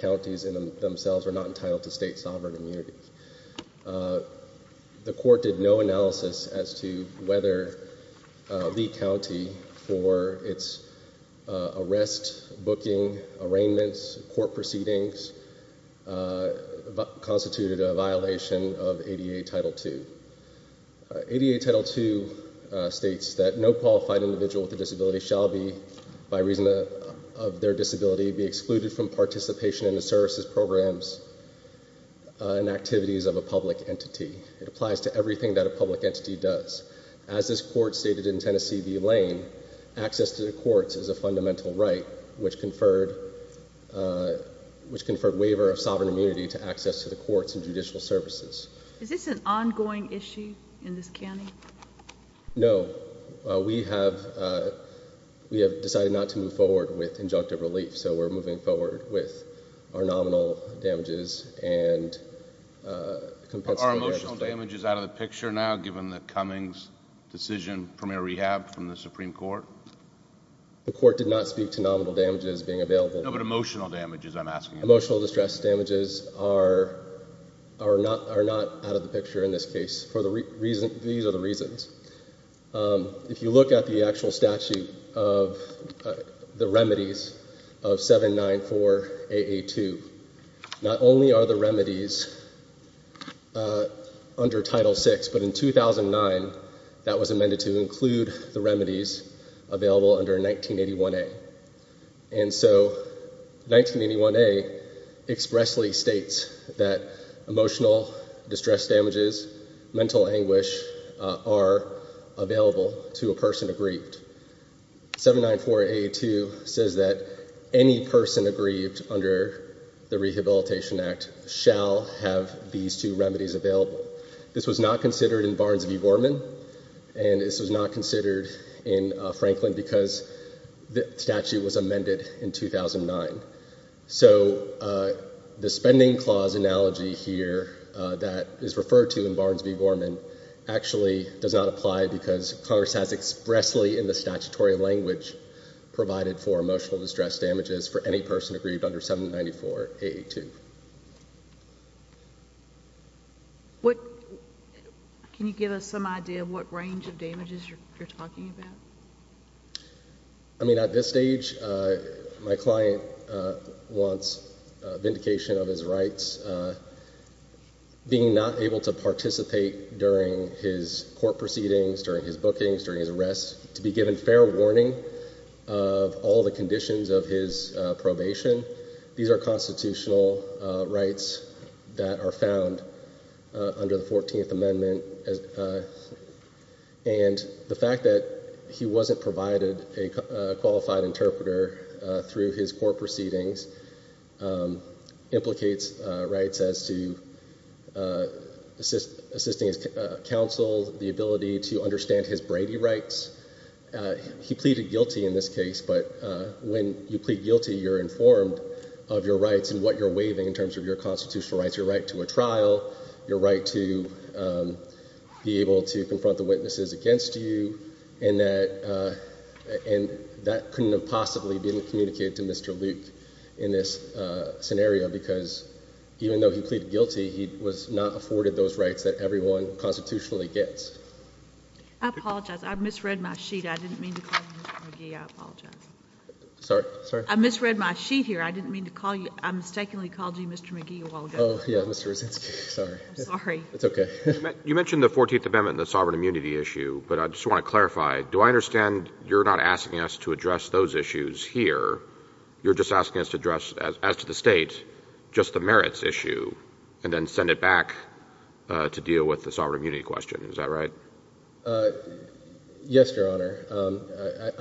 counties themselves are not entitled to state sovereign immunity. The court did no analysis as to whether the county for its arrest, booking, arraignments, court proceedings, constituted a violation of ADA Title II. ADA Title II states that no qualified individual with a position in the services, programs, and activities of a public entity. It applies to everything that a public entity does. As this court stated in Tennessee v. Lane, access to the courts is a fundamental right, which conferred waiver of sovereign immunity to access to the courts and judicial services. Is this an ongoing issue in this county? No. We have decided not to move forward with injunctive relief, so we're moving forward with our nominal damages and compensatory arrests. Are emotional damages out of the picture now, given the Cummings decision, premier rehab from the Supreme Court? The court did not speak to nominal damages being available. No, but emotional damages, I'm asking. Emotional distress damages are not out of the picture in this case. These are the reasons. If you look at the actual statute of the remedies of 794AA2, not only are the remedies under Title VI, but in 2009, that was amended to include the remedies available under 1981A. And so 1981A expressly states that emotional distress damages, mental anguish, are available to a person aggrieved. 794AA2 says that any person aggrieved under the Rehabilitation Act shall have these two remedies available. This was not considered in Barnes v. Gorman, and this was not considered in Franklin because the statute was amended in 2009. So the spending clause analogy here that is referred to in Barnes v. Gorman actually does not apply because Congress has expressly in the statutory language provided for emotional distress damages for any person aggrieved under 794AA2. Can you give us some idea of what range of damages you're talking about? I mean, at this stage, my client wants a vindication of his rights. Being not able to participate during his court proceedings, during his bookings, during his arrests, to be given fair warning of all the conditions of his probation. These are constitutional rights that are found under the 14th Amendment, and the fact that he wasn't provided a qualified interpreter through his court proceedings implicates rights as to assisting his counsel, the ability to understand his Brady rights. He pleaded guilty in this case, but when you plead guilty, you're informed of your rights and what you're waiving in terms of your constitutional rights. Your right to a trial, your right to be able to confront the witnesses against you, and that couldn't have possibly been communicated to Mr. Luke in this scenario because even though he pleaded guilty, he was not afforded those rights that everyone constitutionally gets. I apologize. I misread my sheet. I didn't mean to call you Mr. McGee. I apologize. Sorry? I misread my sheet here. I mistakenly called you Mr. McGee a while ago. You mentioned the 14th Amendment and the sovereign immunity issue, but I just want to clarify. Do I understand you're not asking us to address those issues here. You're just asking us to address, as to the state, just the merits issue, and then send it back to deal with the sovereign immunity question. Is that right? Yes, correct, Your Honor. Let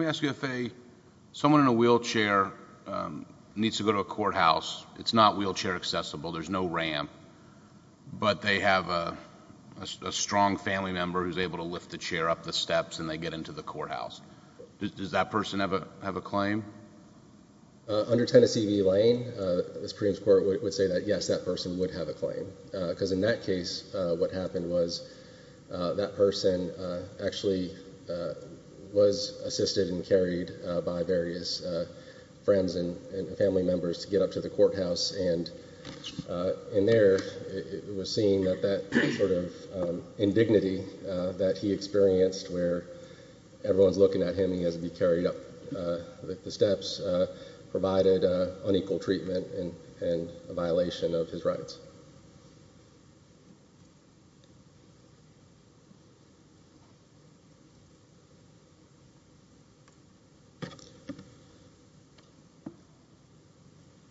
me ask you, if someone in a wheelchair needs to go to a courthouse, it's not wheelchair accessible, there's no ramp, but they have a strong family member who's able to chair up the steps and they get into the courthouse. Does that person have a claim? Under Tennessee v. Lane, the Supreme Court would say that, yes, that person would have a claim, because in that case, what happened was that person actually was assisted and carried by various friends and family members to get up to the courthouse, and in there, it was seen that that sort of indignity that he experienced, where everyone's looking at him, he has to be carried up the steps, provided unequal treatment and a violation of his rights.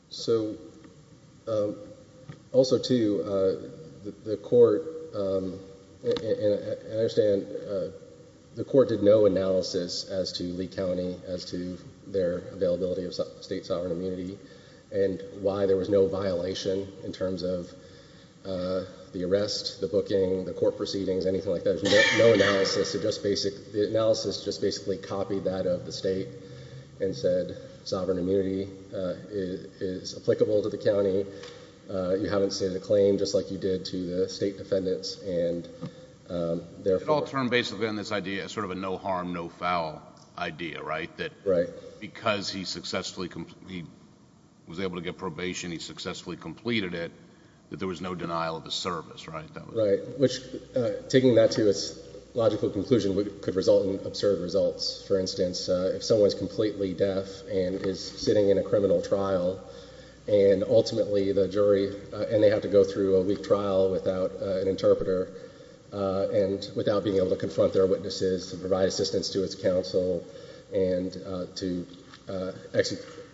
So, also, too, the court, and I understand, the court did no analysis as to Lee County, as to their the arrest, the booking, the court proceedings, anything like that. No analysis. The analysis just basically copied that of the state and said, sovereign immunity is applicable to the county. You haven't stated a claim, just like you did to the state defendants, and therefore— It all turned, basically, on this idea, sort of a no harm, no foul idea, right? Right. Because he was able to get probation, he successfully completed it, that there was no denial of his service, right? Right. Which, taking that to its logical conclusion, could result in absurd results. For instance, if someone's completely deaf and is sitting in a criminal trial, and ultimately the jury, and they have to go through a weak trial without an interpreter, and without being able to confront their to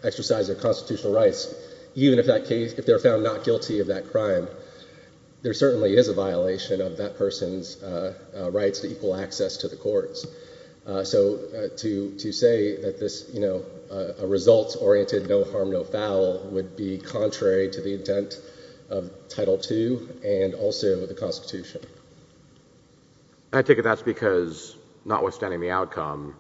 exercise their constitutional rights, even if they're found not guilty of that crime, there certainly is a violation of that person's rights to equal access to the courts. So, to say that this, you know, a results-oriented no harm, no foul would be contrary to the intent of Title II and also the Constitution. I take it that's because, notwithstanding the outcome,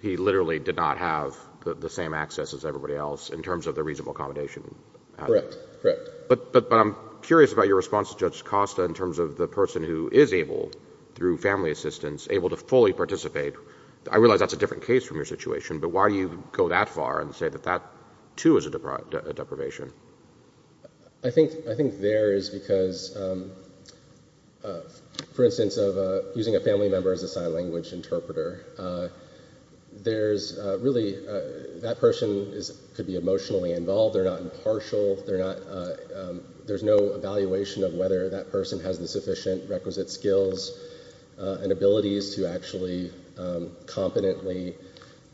he literally did not have the same access as everybody else, in terms of the reasonable accommodation. Correct. Correct. But I'm curious about your response to Judge Costa in terms of the person who is able, through family assistance, able to fully participate. I realize that's a different case from your situation, but why do you go that far and say that that, too, is a deprivation? I think there is because, for instance, of using a family member as a sign language interpreter, there's really, that person could be emotionally involved, they're not impartial, there's no evaluation of whether that person has the sufficient requisite skills and abilities to actually competently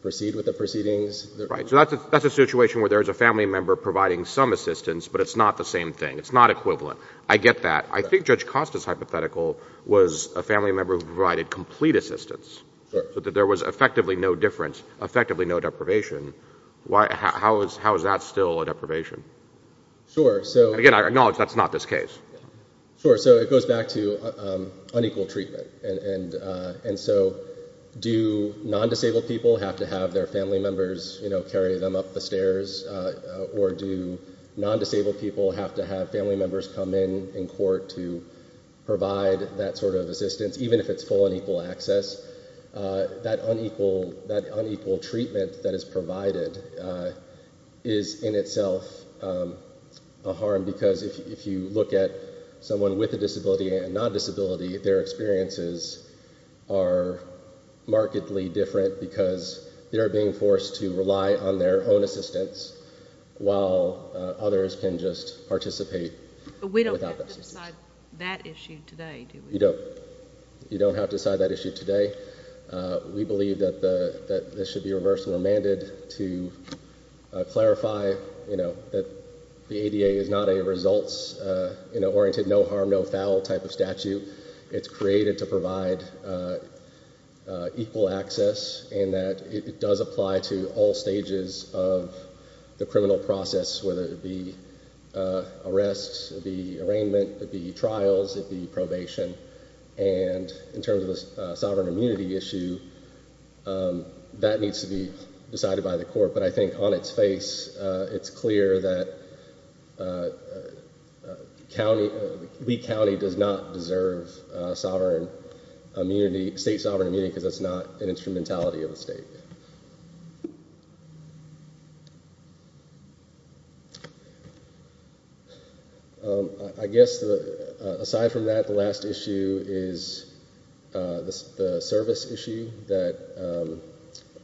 proceed with the proceedings. Right. So that's a situation where there's a family member providing some assistance, but it's not the same thing. It's not equivalent. I get that. I think Judge Costa's hypothetical was a family member who provided complete assistance, so that there was effectively no difference, effectively no deprivation. How is that still a deprivation? Sure. So... Again, I acknowledge that's not this case. Sure. So it goes back to unequal treatment. And so do non-disabled people have to have their family members carry them up the stairs, or do non-disabled people have to have family members come in in court to provide that sort of assistance, even if it's full and equal access? That unequal treatment that is provided is in itself a harm, because if you look at someone with a disability and non-disability, their experiences are markedly different because they are being forced to rely on their own assistance while others can just participate without that assistance. But we don't have to decide that issue today, do we? You don't. You don't have to decide that issue today. We believe that this should be reversed and remanded to clarify that the ADA is not a results-oriented, no-harm-no-foul type of statute. It's created to provide equal access in that it does apply to all stages of the criminal process, whether it be arrests, it be arraignment, it be trials, it be probation. And in terms of a sovereign immunity issue, that needs to be decided by the court. But I think on its face, it's clear that Lee County does not deserve sovereign immunity, state sovereign immunity, because that's not an instrumentality of the state. I guess aside from that, the last issue is the service issue that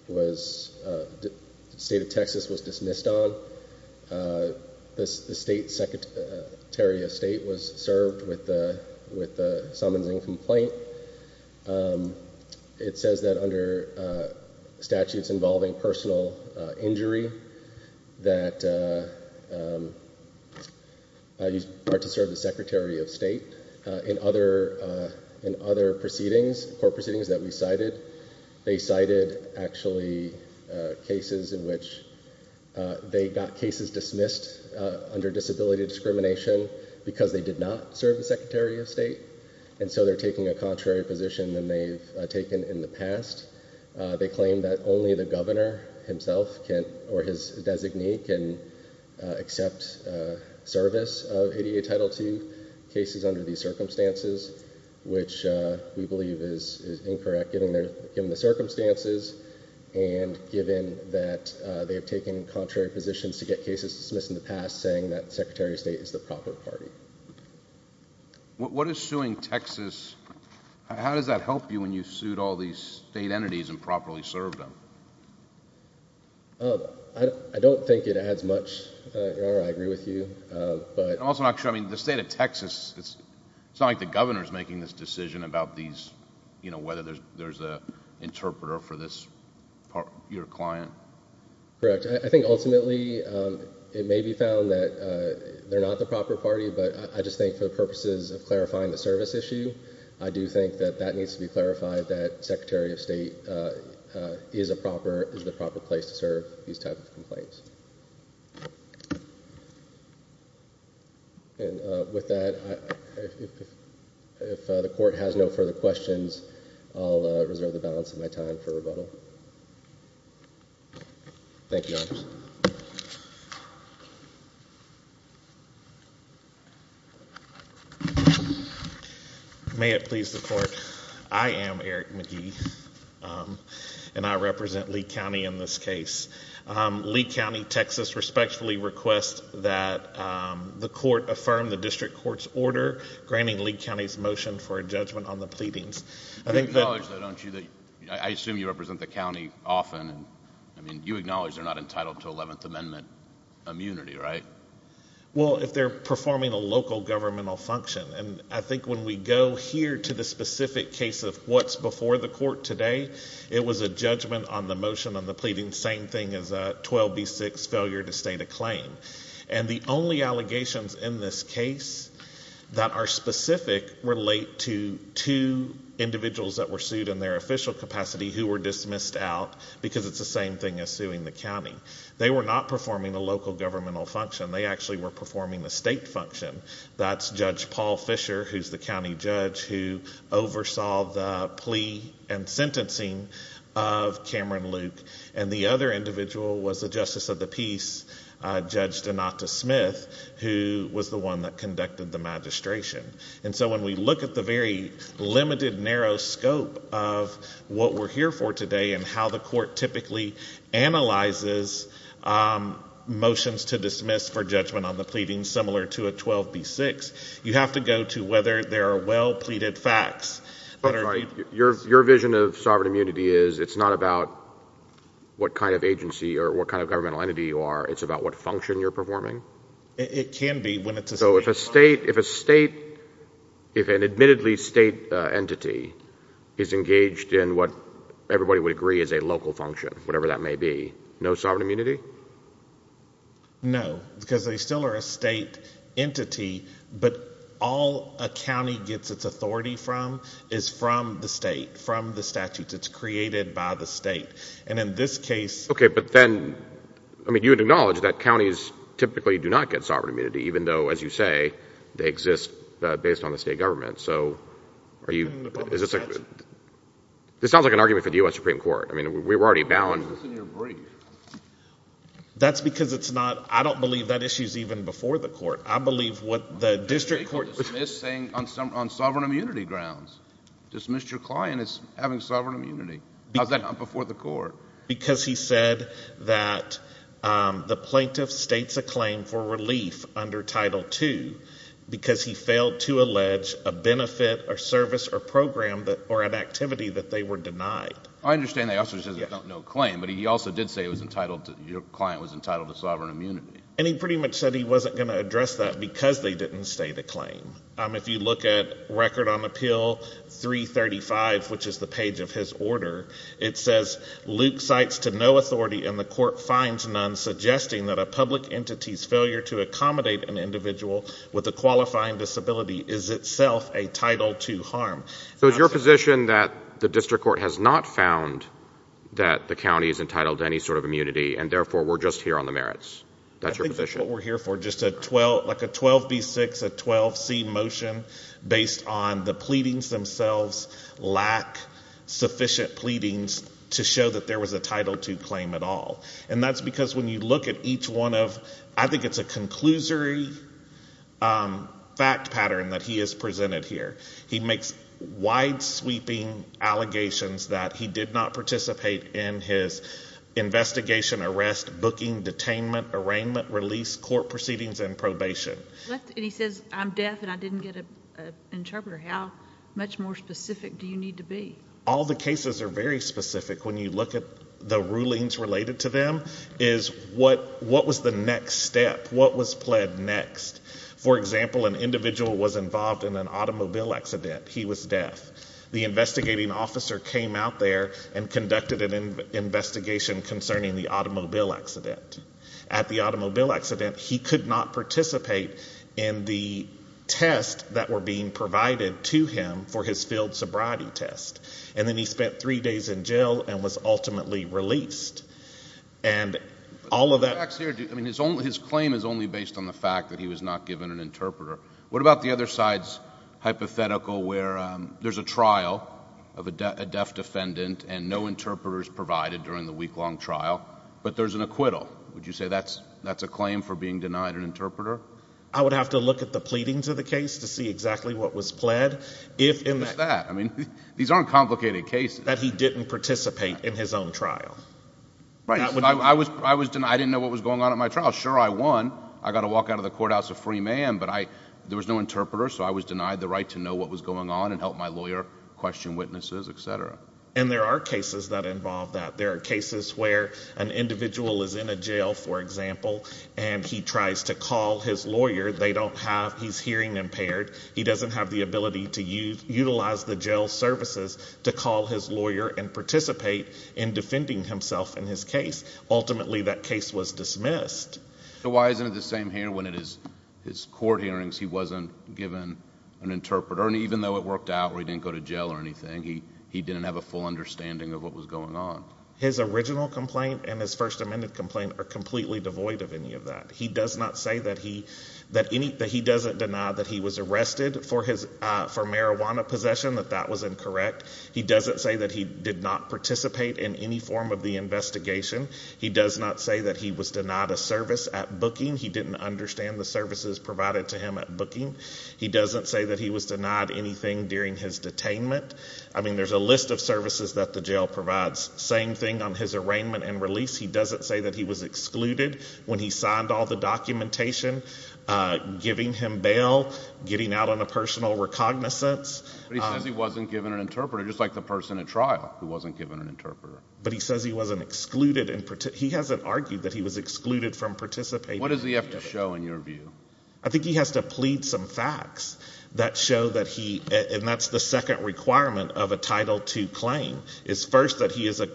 the state of Texas was dismissed on. The state secretariat of state was served with the summonsing complaint. It says that under statutes involving personal injury that you are to serve the secretary of state. In other proceedings, court proceedings that we cited, they cited actually cases in which they got cases dismissed under disability discrimination because they did not serve the secretary of state. And so they're taking a contrary position than they've taken in the past. They claim that only the governor himself or his designee can accept service of ADA Title II cases under these circumstances, which we believe is incorrect given the circumstances and given that they've taken contrary positions to get cases dismissed in the past saying that the secretary of state is the proper party. What is suing Texas... how does that help you when you sued all these state entities and properly served them? I don't think it adds much, Your Honor. I agree with you. I'm also not sure. I mean, the state of Texas, it's not like the governor is making this decision about these... whether there's an interpreter for your client. Correct. I think ultimately it may be found that they're not the proper party, but I just think for the purposes of clarifying the service issue, I do think that that needs to be clarified that secretary of state is a proper... is the proper place to serve these types of complaints. And with that, if the court has no further questions, I'll reserve the balance of my time for rebuttal. Thank you, Your Honor. May it please the court, I am Eric McGee and I represent Lee County in this case. Lee County, Texas respectfully requests that the court affirm the district court's order granting Lee County's motion for a judgment on the pleadings. You acknowledge, though, don't you, that... I assume you represent the county often. I mean, you acknowledge they're not entitled to Eleventh Amendment immunity, right? Well, if they're performing a local governmental function. And I think when we go here to the specific case of what's before the court today, it was a judgment on the motion on the pleadings, same thing as a 12B6 failure to state a claim. And the only allegations in this case that are specific relate to two individuals that were sued in their official capacity who were dismissed out because it's the same thing as suing the county. They were not performing a local governmental function. They actually were performing a state function. That's Judge Paul Fisher, who's the county judge who oversaw the plea and sentencing of Cameron Luke. And the other individual was the Justice of the Peace, Judge Donata Smith, who was the one that conducted the magistration. And so when we look at the very limited, narrow scope of what we're here for today and how the court typically analyzes motions to dismiss for judgment on the pleadings similar to a 12B6, you have to go to whether there are well-pleaded facts that are... what kind of agency or what kind of governmental entity you are. It's about what function you're performing? It can be when it's a state function. So if a state... if an admittedly state entity is engaged in what everybody would agree is a local function, whatever that may be, no sovereign immunity? No, because they still are a state entity, but all a county gets its authority from is from the state, from the statutes. It's created by the state. And in this case... Okay, but then... I mean, you would acknowledge that counties typically do not get sovereign immunity, even though, as you say, they exist based on the state government. So are you... is this a... this sounds like an argument for the U.S. Supreme Court. I mean, we were already bound... Why is this in your brief? That's because it's not... I don't believe that issue is even before the court. I believe what the district court... You're dismissing on sovereign immunity grounds. Dismiss your client as having sovereign immunity. How's that not before the court? Because he said that the plaintiff states a claim for relief under Title II because he failed to allege a benefit or service or program or an activity that they were denied. I understand that he also says there's no claim, but he also did say it was entitled to... your client was entitled to sovereign immunity. And he pretty much said he wasn't going to address that because they didn't state a claim. If you look at Record on Appeal 335, which is the page of his order, it says, Luke cites to no authority and the court finds none, suggesting that a public entity's failure to accommodate an individual with a qualifying disability is itself a Title II harm. So is your position that the district court has not found that the county is entitled to any sort of immunity and therefore we're just here on the merits? That's your position? I think that's what we're here for, just like a 12B6, a 12C motion, based on the pleadings themselves lack sufficient pleadings to show that there was a Title II claim at all. And that's because when you look at each one of... I think it's a conclusory fact pattern that he has presented here. He makes wide-sweeping allegations that he did not participate in his investigation, arrest, booking, detainment, arraignment, release, court proceedings, and probation. And he says, I'm deaf and I didn't get an interpreter. How much more specific do you need to be? All the cases are very specific. When you look at the rulings related to them is what was the next step? What was pled next? For example, an individual was involved in an automobile accident. He was deaf. The investigating officer came out there and conducted an investigation concerning the automobile accident. At the automobile accident, he could not participate in the tests that were being provided to him for his field sobriety test. And then he spent three days in jail and was ultimately released. And all of that... I mean, his claim is only based on the fact that he was not given an interpreter. What about the other side's hypothetical where there's a trial of a deaf defendant and no interpreter is provided during the week-long trial, but there's an acquittal? Would you say that's a claim for being denied an interpreter? I would have to look at the pleadings of the case to see exactly what was pled. What's that? I mean, these aren't complicated cases. That he didn't participate in his own trial. I didn't know what was going on at my trial. Sure, I won. I got to walk out of the courthouse a free man. But there was no interpreter, so I was denied the right to know what was going on and help my lawyer question witnesses, et cetera. And there are cases that involve that. There are cases where an individual is in a jail, for example, and he tries to call his lawyer. They don't have... he's hearing impaired. He doesn't have the ability to utilize the jail services to call his lawyer and participate in defending himself in his case. Ultimately, that case was dismissed. So why isn't it the same here when at his court hearings he wasn't given an interpreter, and even though it worked out where he didn't go to jail or anything, he didn't have a full understanding of what was going on? His original complaint and his First Amendment complaint are completely devoid of any of that. He does not say that he doesn't deny that he was arrested for marijuana possession, that that was incorrect. He doesn't say that he did not participate in any form of the investigation. He does not say that he was denied a service at booking. He didn't understand the services provided to him at booking. He doesn't say that he was denied anything during his detainment. I mean, there's a list of services that the jail provides. Same thing on his arraignment and release. He doesn't say that he was excluded when he signed all the documentation, giving him bail, getting out on a personal recognizance. But he says he wasn't given an interpreter, just like the person at trial who wasn't given an interpreter. But he says he wasn't excluded. He hasn't argued that he was excluded from participating. What does he have to show in your view? I think he has to plead some facts that show that he, and that's the second requirement of a Title II claim, is first that he has a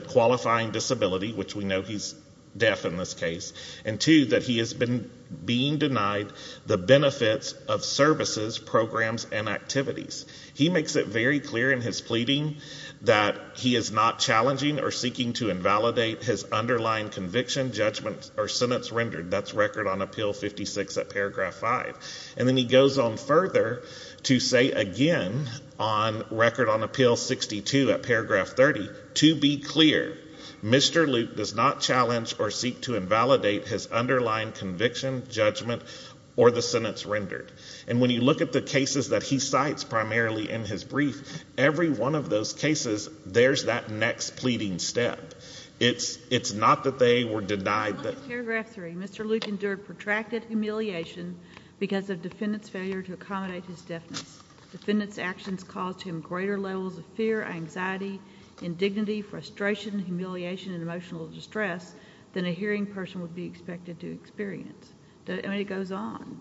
qualifying disability, which we know he's deaf in this case, and two, that he has been being denied the benefits of services, programs, and activities. He makes it very clear in his pleading that he is not challenging or seeking to invalidate his underlying conviction, judgment, or sentence rendered. That's Record on Appeal 56 at paragraph 5. And then he goes on further to say again on Record on Appeal 62 at paragraph 30, to be clear, Mr. Luke does not challenge or seek to invalidate his underlying conviction, judgment, or the sentence rendered. And when you look at the cases that he cites primarily in his brief, every one of those cases there's that next pleading step. It's not that they were denied that. In paragraph 3, Mr. Luke endured protracted humiliation because of defendant's failure to accommodate his deafness. Defendant's actions caused him greater levels of fear, anxiety, indignity, frustration, humiliation, and emotional distress than a hearing person would be expected to experience. It goes on.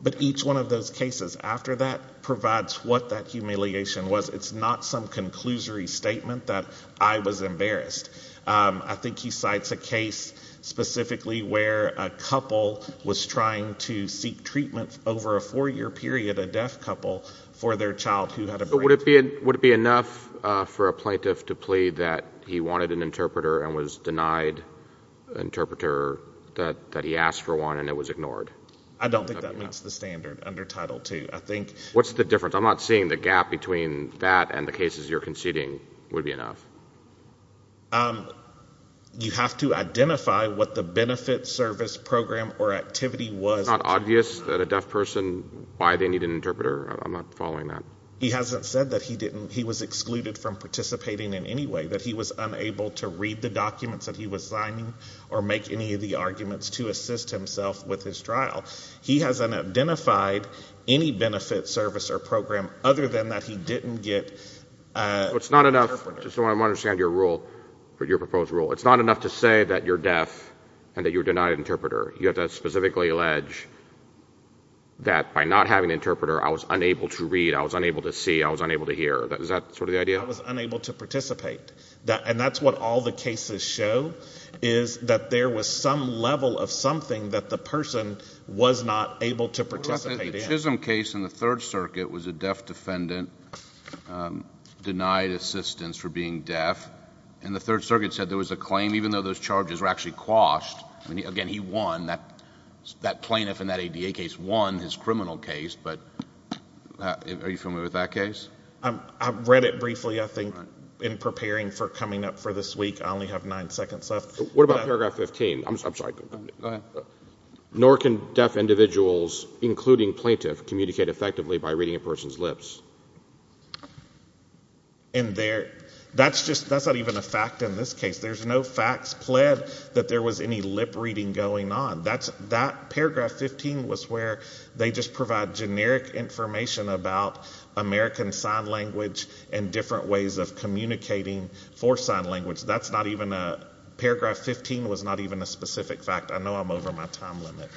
But each one of those cases after that provides what that humiliation was. It's not some conclusory statement that I was embarrassed. I think he cites a case specifically where a couple was trying to seek treatment over a four-year period, a deaf couple, for their child who had a brain tumor. But would it be enough for a plaintiff to plead that he wanted an interpreter and was denied an interpreter, that he asked for one and it was ignored? I don't think that meets the standard under Title II. What's the difference? I'm not seeing the gap between that and the cases you're conceding would be enough. You have to identify what the benefit, service, program, or activity was. It's not obvious that a deaf person, why they need an interpreter. I'm not following that. He hasn't said that he was excluded from participating in any way, that he was unable to read the documents that he was signing or make any of the arguments to assist himself with his trial. He hasn't identified any benefit, service, or program, other than that he didn't get an interpreter. I want to understand your proposed rule. It's not enough to say that you're deaf and that you're denied an interpreter. You have to specifically allege that by not having an interpreter, I was unable to read, I was unable to see, I was unable to hear. Is that sort of the idea? I was unable to participate. And that's what all the cases show, is that there was some level of something that the person was not able to participate in. The Chisholm case in the Third Circuit was a deaf defendant denied assistance for being deaf. And the Third Circuit said there was a claim, even though those charges were actually quashed. Again, he won. That plaintiff in that ADA case won his criminal case. But are you familiar with that case? I read it briefly, I think, in preparing for coming up for this week. I only have nine seconds left. What about Paragraph 15? I'm sorry, go ahead. Nor can deaf individuals, including plaintiff, communicate effectively by reading a person's lips. That's not even a fact in this case. There's no facts pled that there was any lip-reading going on. That Paragraph 15 was where they just provide generic information about American Sign Language and different ways of communicating for sign language. Paragraph 15 was not even a specific fact. I know I'm over my time limit.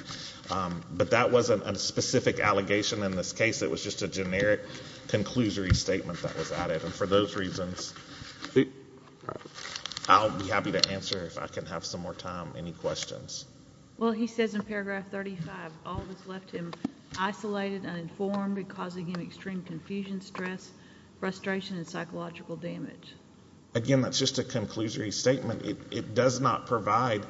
But that wasn't a specific allegation in this case. It was just a generic conclusory statement that was added. And for those reasons, I'll be happy to answer, if I can have some more time, any questions. Well, he says in Paragraph 35, all this left him isolated, uninformed, causing him extreme confusion, stress, frustration, and psychological damage. Again, that's just a conclusory statement. It does not provide...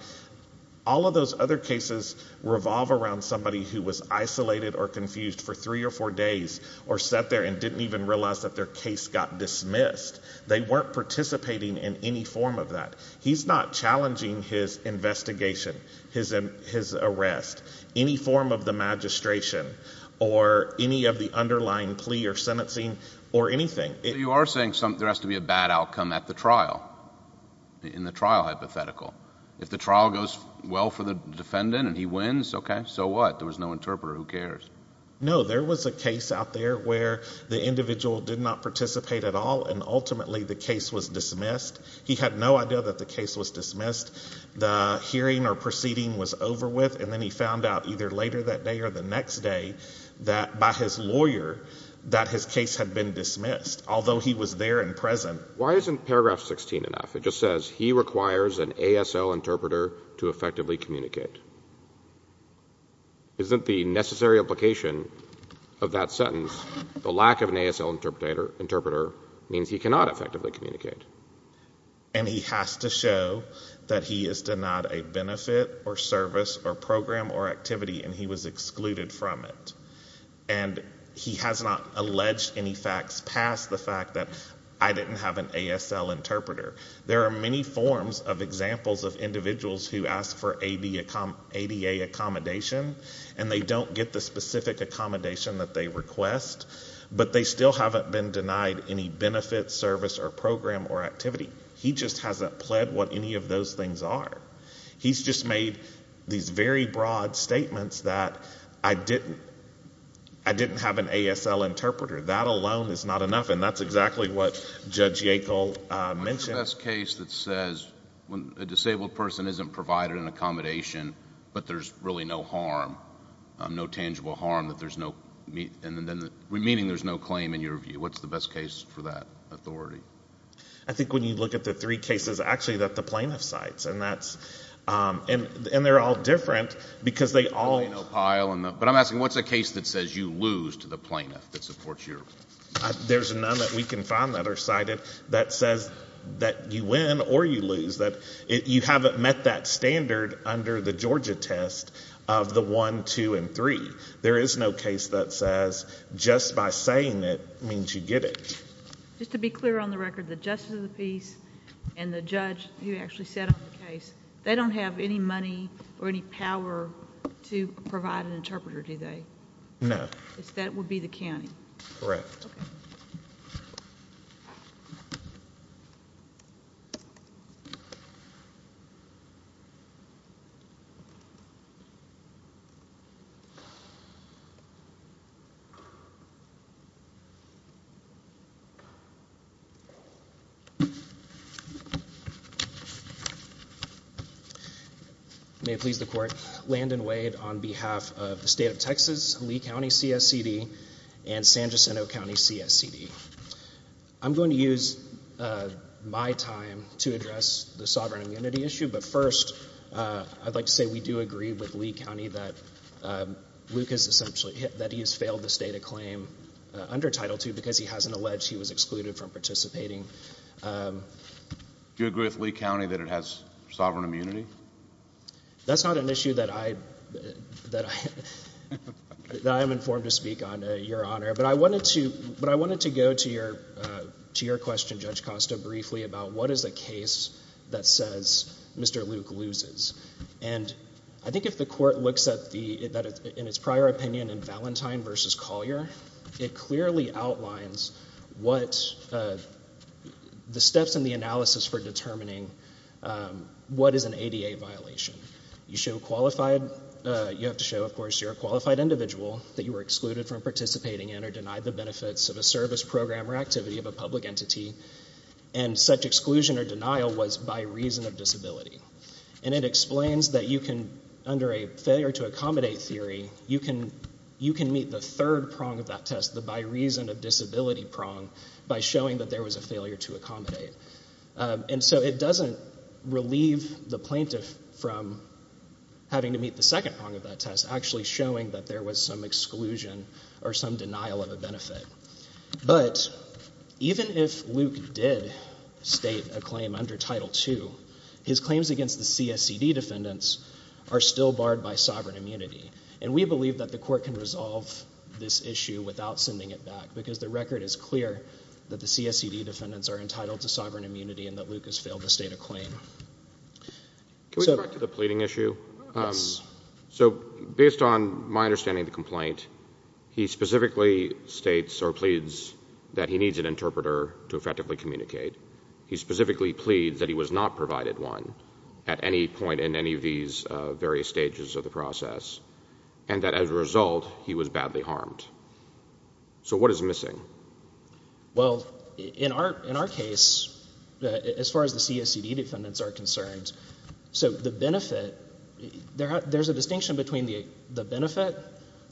All of those other cases revolve around somebody who was isolated or confused for three or four days or sat there and didn't even realize that their case got dismissed. They weren't participating in any form of that. He's not challenging his investigation, his arrest, any form of the magistration or any of the underlying plea or sentencing or anything. You are saying there has to be a bad outcome at the trial, in the trial hypothetical. If the trial goes well for the defendant and he wins, okay, so what? There was no interpreter. Who cares? No, there was a case out there where the individual did not participate at all, and ultimately the case was dismissed. He had no idea that the case was dismissed. The hearing or proceeding was over with, and then he found out either later that day or the next day by his lawyer that his case had been dismissed, although he was there and present. Why isn't paragraph 16 enough? It just says he requires an ASL interpreter to effectively communicate. Isn't the necessary application of that sentence the lack of an ASL interpreter means he cannot effectively communicate? And he has to show that he is denied a benefit or service or program or activity and he was excluded from it. And he has not alleged any facts past the fact that I didn't have an ASL interpreter. There are many forms of examples of individuals who ask for ADA accommodation and they don't get the specific accommodation that they request, but they still haven't been denied any benefit, service, or program or activity. He just hasn't pled what any of those things are. He's just made these very broad statements that I didn't have an ASL interpreter. That alone is not enough, and that's exactly what Judge Yackel mentioned. What's the best case that says when a disabled person isn't provided an accommodation but there's really no harm, no tangible harm, meaning there's no claim in your view? What's the best case for that authority? I think when you look at the three cases, actually, that the plaintiff cites, and they're all different because they all... But I'm asking, what's a case that says you lose to the plaintiff that supports you? There's none that we can find that are cited that says that you win or you lose, that you haven't met that standard under the Georgia test of the 1, 2, and 3. There is no case that says just by saying it means you get it. Just to be clear on the record, the Justice of the Peace and the judge who actually set up the case, they don't have any money or any power to provide an interpreter, do they? No. That would be the county? Correct. Okay. May it please the court. Landon Wade on behalf of the state of Texas, Lee County CSCD, and San Jacinto County CSCD. I'm going to use my time to address the sovereign immunity issue, but first, I'd like to say we do agree with Lee County that Luke has essentially... that he has failed the state of claim under Title II because he hasn't alleged he was excluded from participating Do you agree with Lee County that it has sovereign immunity? That's not an issue that I... that I am informed to speak on, Your Honor. But I wanted to go to your question, Judge Costa, briefly about what is a case that says Mr. Luke loses. And I think if the court looks at the... in its prior opinion in Valentine v. Collier, it clearly outlines what... the steps in the analysis for determining what is an ADA violation. You show qualified... you have to show, of course, you're a qualified individual that you were excluded from participating in or denied the benefits of a service, program, or activity of a public entity, and such exclusion or denial was by reason of disability. And it explains that you can, under a failure to accommodate theory, you can meet the third prong of that test, the by reason of disability prong, by showing that there was a failure to accommodate. And so it doesn't relieve the plaintiff from having to meet the second prong of that test, actually showing that there was some exclusion or some denial of a benefit. But even if Luke did state a claim under Title II, his claims against the CSCD defendants are still barred by sovereign immunity. And we believe that the court can resolve this issue without sending it back, because the record is clear that the CSCD defendants are entitled to sovereign immunity and that Luke has failed to state a claim. Can we go back to the pleading issue? Yes. So based on my understanding of the complaint, he specifically states or pleads that he needs an interpreter to effectively communicate. He specifically pleads that he was not provided one at any point in any of these various stages of the process and that as a result, he was badly harmed. So what is missing? Well, in our case, as far as the CSCD defendants are concerned, so the benefit... There's a distinction between the benefit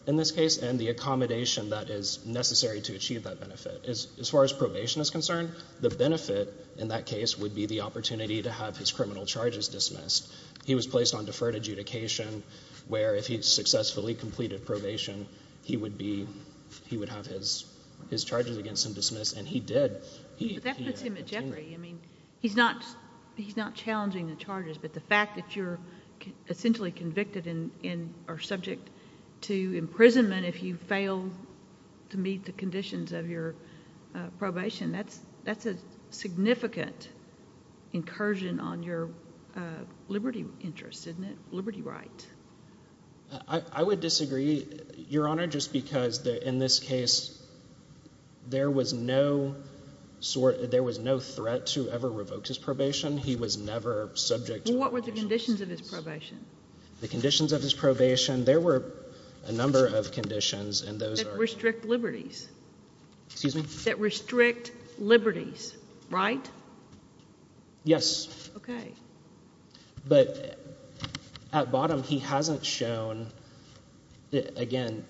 in this case and the accommodation that is necessary to achieve that benefit. As far as probation is concerned, the benefit in that case would be the opportunity to have his criminal charges dismissed. He was placed on deferred adjudication where if he'd successfully completed probation, he would have his charges against him dismissed, and he did. But that puts him at jeopardy. I mean, he's not challenging the charges, but the fact that you're essentially convicted and are subject to imprisonment if you fail to meet the conditions of your probation, that's a significant incursion on your liberty interest, isn't it? Liberty right. I would disagree, Your Honour, just because in this case there was no threat to ever revoke his probation. He was never subject to... What were the conditions of his probation? The conditions of his probation, there were a number of conditions... That restrict liberties. Excuse me? That restrict liberties, right? Yes. OK. But at bottom he hasn't shown... Again,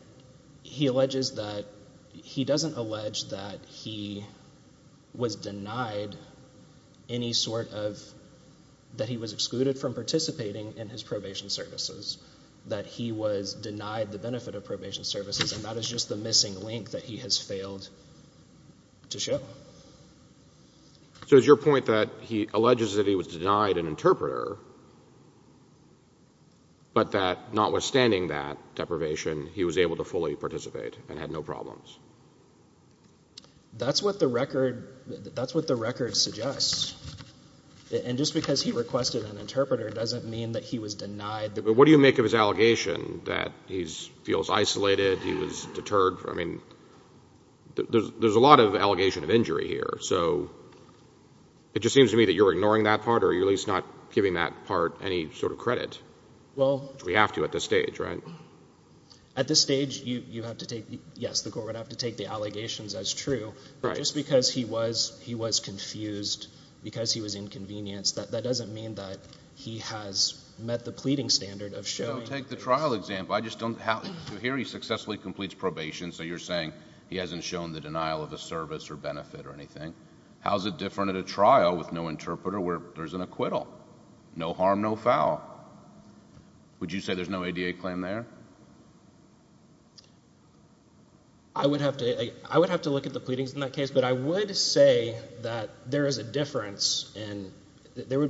he alleges that... He doesn't allege that he was denied any sort of... That he was excluded from participating in his probation services, that he was denied the benefit of probation services, and that is just the missing link that he has failed to show. So is your point that he alleges that he was denied an interpreter, but that notwithstanding that deprivation he was able to fully participate and had no problems? That's what the record suggests. And just because he requested an interpreter doesn't mean that he was denied... But what do you make of his allegation that he feels isolated, he was deterred, I mean, there's a lot of allegation of injury here. So it just seems to me that you're ignoring that part or you're at least not giving that part any sort of credit. Well... Which we have to at this stage, right? At this stage, you have to take... Yes, the court would have to take the allegations as true. Right. But just because he was confused, because he was inconvenienced, that doesn't mean that he has met the pleading standard of showing... Take the trial example. I just don't... Here he successfully completes probation, so you're saying he hasn't shown the denial of a service or benefit or anything. How is it different at a trial with no interpreter where there's an acquittal? No harm, no foul. Would you say there's no ADA claim there? I would have to look at the pleadings in that case, but I would say that there is a difference in... There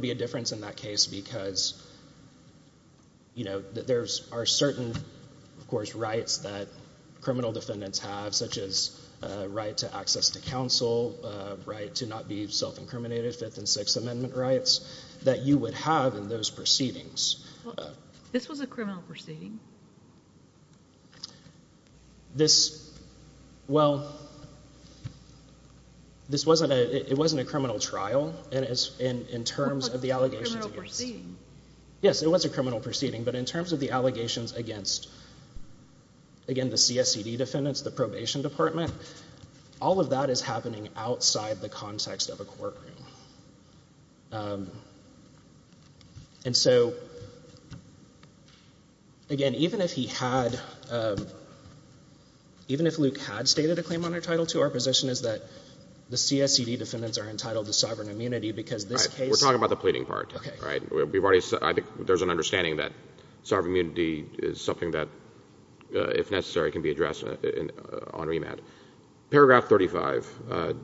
are certain, of course, rights that criminal defendants have, such as a right to access to counsel, a right to not be self-incriminated, Fifth and Sixth Amendment rights, that you would have in those proceedings. This was a criminal proceeding? This... Well... This wasn't a criminal trial in terms of the allegations. It was a criminal proceeding. But in terms of the allegations against, again, the CSCD defendants, the probation department, all of that is happening outside the context of a courtroom. And so, again, even if he had... Even if Luke had stated a claimant under Title II, our position is that the CSCD defendants are entitled to sovereign immunity because this case... We're talking about the pleading part. Okay. There's an understanding that sovereign immunity is something that, if necessary, can be addressed on remand. Paragraph 35.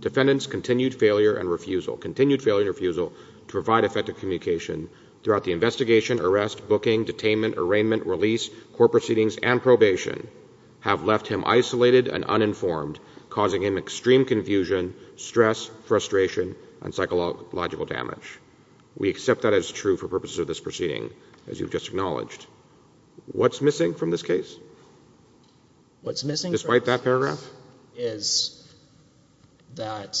Defendants' continued failure and refusal to provide effective communication throughout the investigation, arrest, booking, detainment, arraignment, release, court proceedings, and probation have left him isolated and uninformed, causing him extreme confusion, stress, frustration, and psychological damage. We accept that as true for purposes of this proceeding, as you've just acknowledged. What's missing from this case? What's missing from this case... Despite that paragraph? ...is that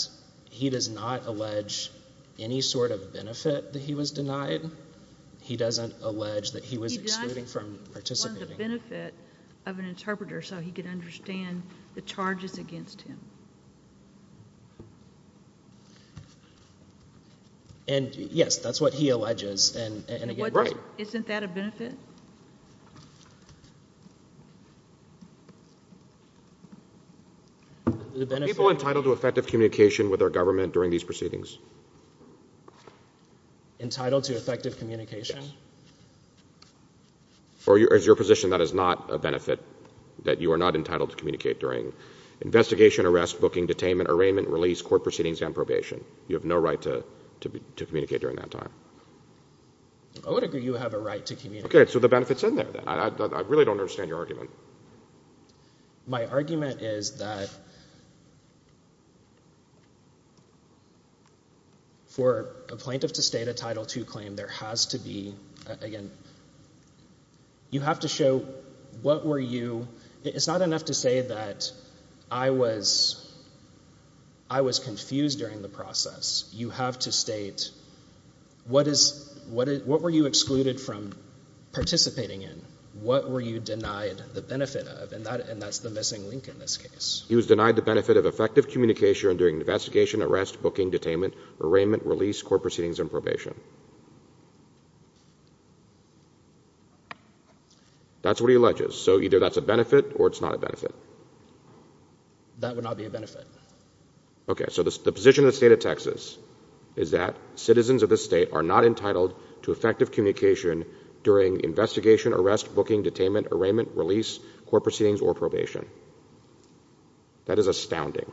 he does not allege any sort of benefit that he was denied. He doesn't allege that he was excluded from participating. He does want the benefit of an interpreter so he can understand the charges against him. And, yes, that's what he alleges, and again, you're right. Isn't that a benefit? Are people entitled to effective communication with their government during these proceedings? Entitled to effective communication? Yes. Or is your position that is not a benefit, that you are not entitled to communicate during investigation, arrest, booking, detainment, arraignment, release, court proceedings, and probation? You have no right to communicate during that time. I would agree you have a right to communicate. Okay, so the benefit's in there, then. I really don't understand your argument. My argument is that for a plaintiff to state a Title II claim, there has to be, again, you have to show what were you... It's not enough to say that I was confused during the process. You have to state what were you excluded from participating in, what were you denied the benefit of, and that's the missing link in this case. He was denied the benefit of effective communication during investigation, arrest, booking, detainment, arraignment, release, court proceedings, and probation. That's what he alleges. So either that's a benefit or it's not a benefit. That would not be a benefit. Okay, so the position of the state of Texas is that citizens of this state are not entitled to effective communication during investigation, arrest, booking, detainment, arraignment, release, court proceedings, or probation. That is astounding.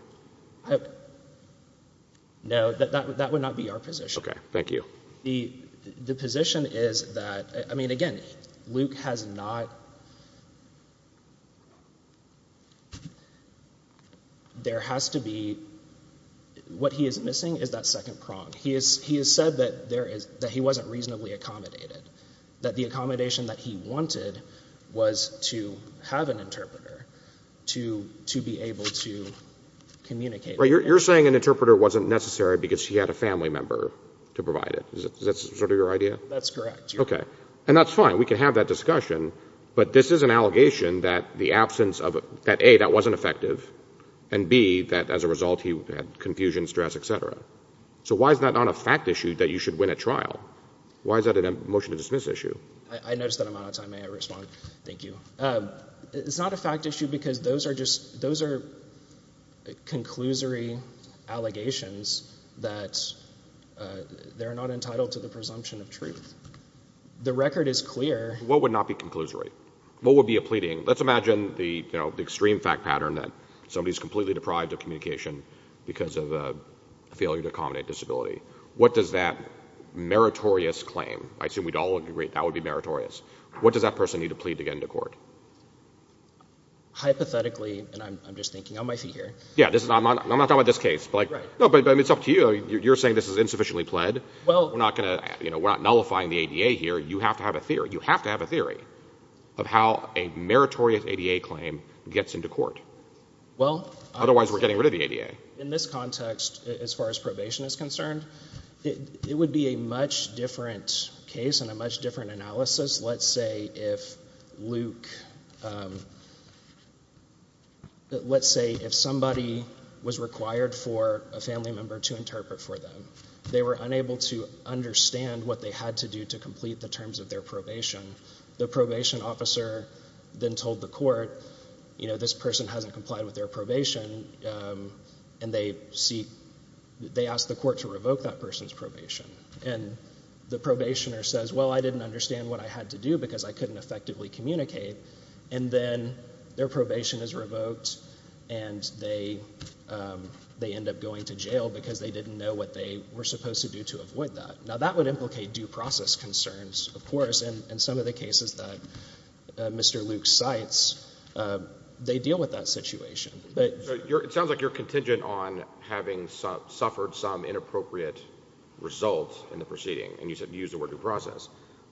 No, that would not be our position. Okay, thank you. The position is that, I mean, again, Luke has not... There has to be... What he is missing is that second prong. He has said that he wasn't reasonably accommodated, that the accommodation that he wanted was to have an interpreter to be able to communicate. You're saying an interpreter wasn't necessary because he had a family member to provide it. Is that sort of your idea? That's correct. Okay. And that's fine. We can have that discussion. But this is an allegation that the absence of... That, A, that wasn't effective, and, B, that as a result he had confusion, stress, et cetera. So why is that not a fact issue that you should win at trial? Why is that a motion to dismiss issue? I noticed that I'm out of time. May I respond? Thank you. It's not a fact issue because those are just... Those are conclusory allegations that they're not entitled to the presumption of truth. The record is clear. What would not be conclusory? What would be a pleading? Let's imagine the extreme fact pattern that somebody is completely deprived of communication because of a failure to accommodate disability. What does that meritorious claim... I assume we'd all agree that would be meritorious. What does that person need to plead to get into court? Hypothetically, and I'm just thinking on my feet here... Yeah, I'm not talking about this case. No, but it's up to you. You're saying this is insufficiently pled. We're not nullifying the ADA here. You have to have a theory. You have to have a theory of how a meritorious ADA claim gets into court. Otherwise, we're getting rid of the ADA. In this context, as far as probation is concerned, it would be a much different case and a much different analysis. Let's say if Luke... Let's say if somebody was required for a family member to interpret for them. They were unable to understand what they had to do to complete the terms of their probation. The probation officer then told the court, you know, this person hasn't complied with their probation, and they ask the court to revoke that person's probation. And the probationer says, well, I didn't understand what I had to do because I couldn't effectively communicate. And then their probation is revoked, and they end up going to jail because they didn't know what they were supposed to do to avoid that. Now, that would implicate due process concerns, of course. In some of the cases that Mr. Luke cites, they deal with that situation. It sounds like you're contingent on having suffered some inappropriate result in the proceeding, and you use the word due process.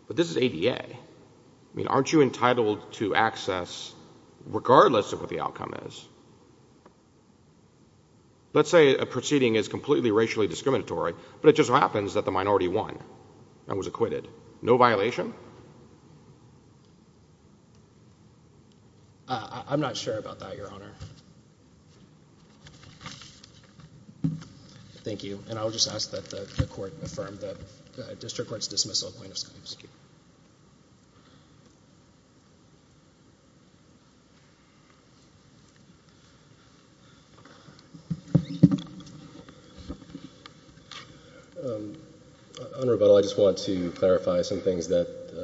But this is ADA. I mean, aren't you entitled to access regardless of what the outcome is? Let's say a proceeding is completely racially discriminatory, but it just happens that the minority won and was acquitted. No violation? I'm not sure about that, Your Honor. Thank you. And I'll just ask that the court affirm the district court's dismissal of plaintiffs. Thank you. On rebuttal, I just want to clarify some things that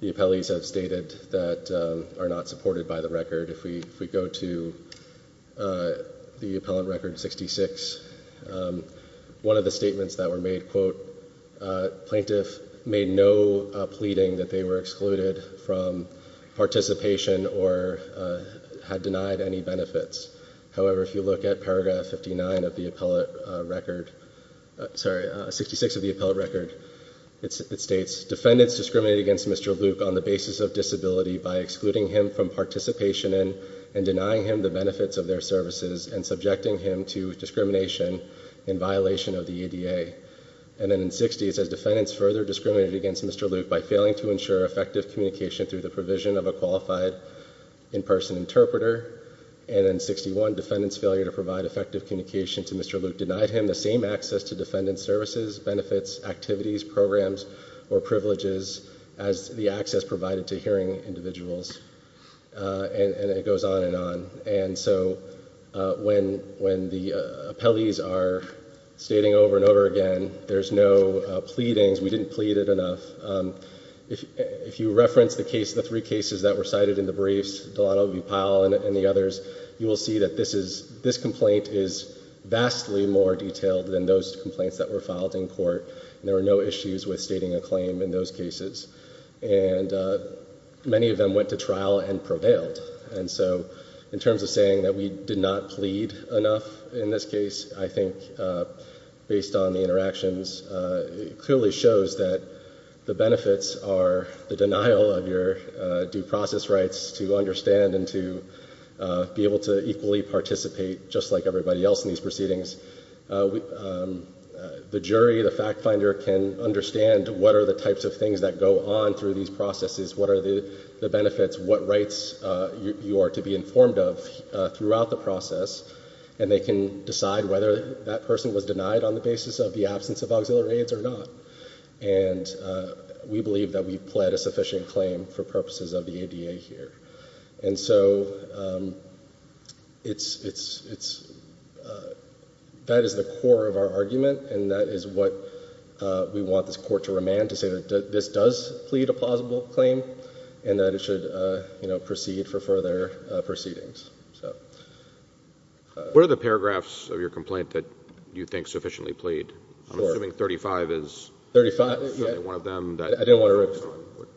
the appellees have stated that are not supported by the record. If we go to the appellant record 66, one of the statements that were made, quote, plaintiff made no pleading that they were excluded from participation or had denied any benefits. However, if you look at paragraph 59 of the appellate record, sorry, 66 of the appellate record, it states, Defendants discriminate against Mr. Luke on the basis of disability by excluding him from participation and denying him the benefits of their services and subjecting him to discrimination in violation of the ADA. And then in 60, it says, Defendants further discriminated against Mr. Luke by failing to ensure effective communication through the provision of a qualified in-person interpreter. And in 61, Defendants' failure to provide effective communication to Mr. Luke denied him the same access to defendant services, benefits, activities, programs, or privileges as the access provided to hearing individuals. And it goes on and on. And so when the appellees are stating over and over again, there's no pleadings. We didn't plead it enough. If you reference the case, the three cases that were cited in the briefs, Delano v. Powell and the others, you will see that this complaint is vastly more detailed than those complaints that were filed in court. There were no issues with stating a claim in those cases, and many of them went to trial and prevailed. And so in terms of saying that we did not plead enough in this case, I think, based on the interactions, it clearly shows that the benefits are the denial of your due process rights to understand and to be able to equally participate, just like everybody else in these proceedings. The jury, the fact finder, can understand what are the types of things that go on through these processes, what are the benefits, what rights you are to be informed of throughout the process, and they can decide whether that person was denied on the basis of the absence of auxiliary aids or not. And we believe that we've pled a sufficient claim for purposes of the ADA here. And so it's... That is the core of our argument, and that is what we want this court to remand, to say that this does plead a plausible claim and that it should proceed for further proceedings. What are the paragraphs of your complaint that you think sufficiently plead? I'm assuming 35 is... 35? One of them that... I didn't want to...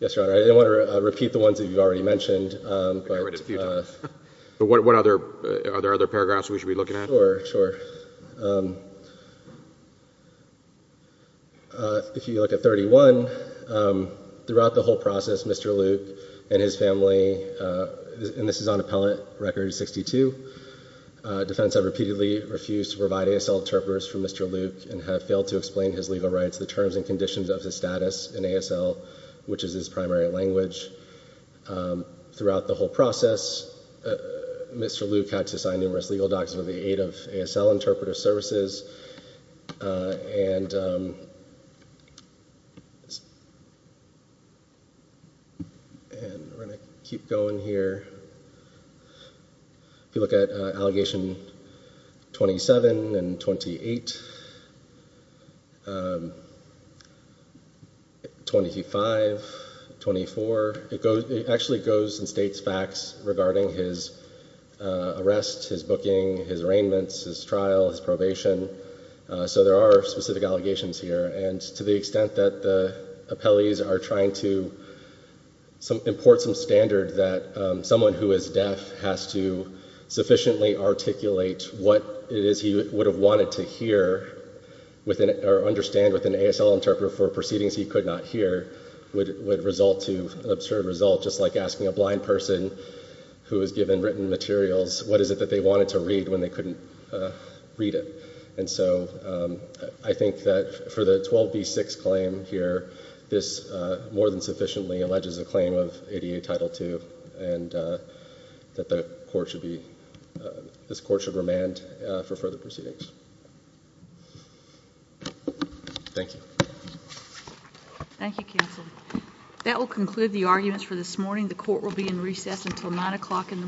Yes, Your Honor. I didn't want to repeat the ones that you've already mentioned. But what other... Are there other paragraphs we should be looking at? Sure, sure. If you look at 31, throughout the whole process, Mr. Luke and his family... And this is on Appellant Record 62. Defends have repeatedly refused to provide ASL interpreters for Mr. Luke and have failed to explain his legal rights, the terms and conditions of his status in ASL, which is his primary language. Throughout the whole process, Mr. Luke had to sign numerous legal documents with the aid of ASL interpreter services. And... And we're going to keep going here. If you look at Allegation 27 and 28... 25, 24... It actually goes and states facts regarding his arrest, his booking, his arraignments, his trial, his probation. So there are specific allegations here. And to the extent that the appellees are trying to import some standard that someone who is deaf has to sufficiently articulate what it is he would have wanted to hear or understand with an ASL interpreter for proceedings he could not hear would result to an absurd result, just like asking a blind person who was given written materials what is it that they wanted to read when they couldn't read it. And so I think that for the 12B6 claim here, this more than sufficiently alleges a claim of ADA Title II and that the court should be... this court should remand for further proceedings. Thank you. Thank you, counsel. That will conclude the arguments for this morning. The court will be in recess until 9 o'clock in the morning.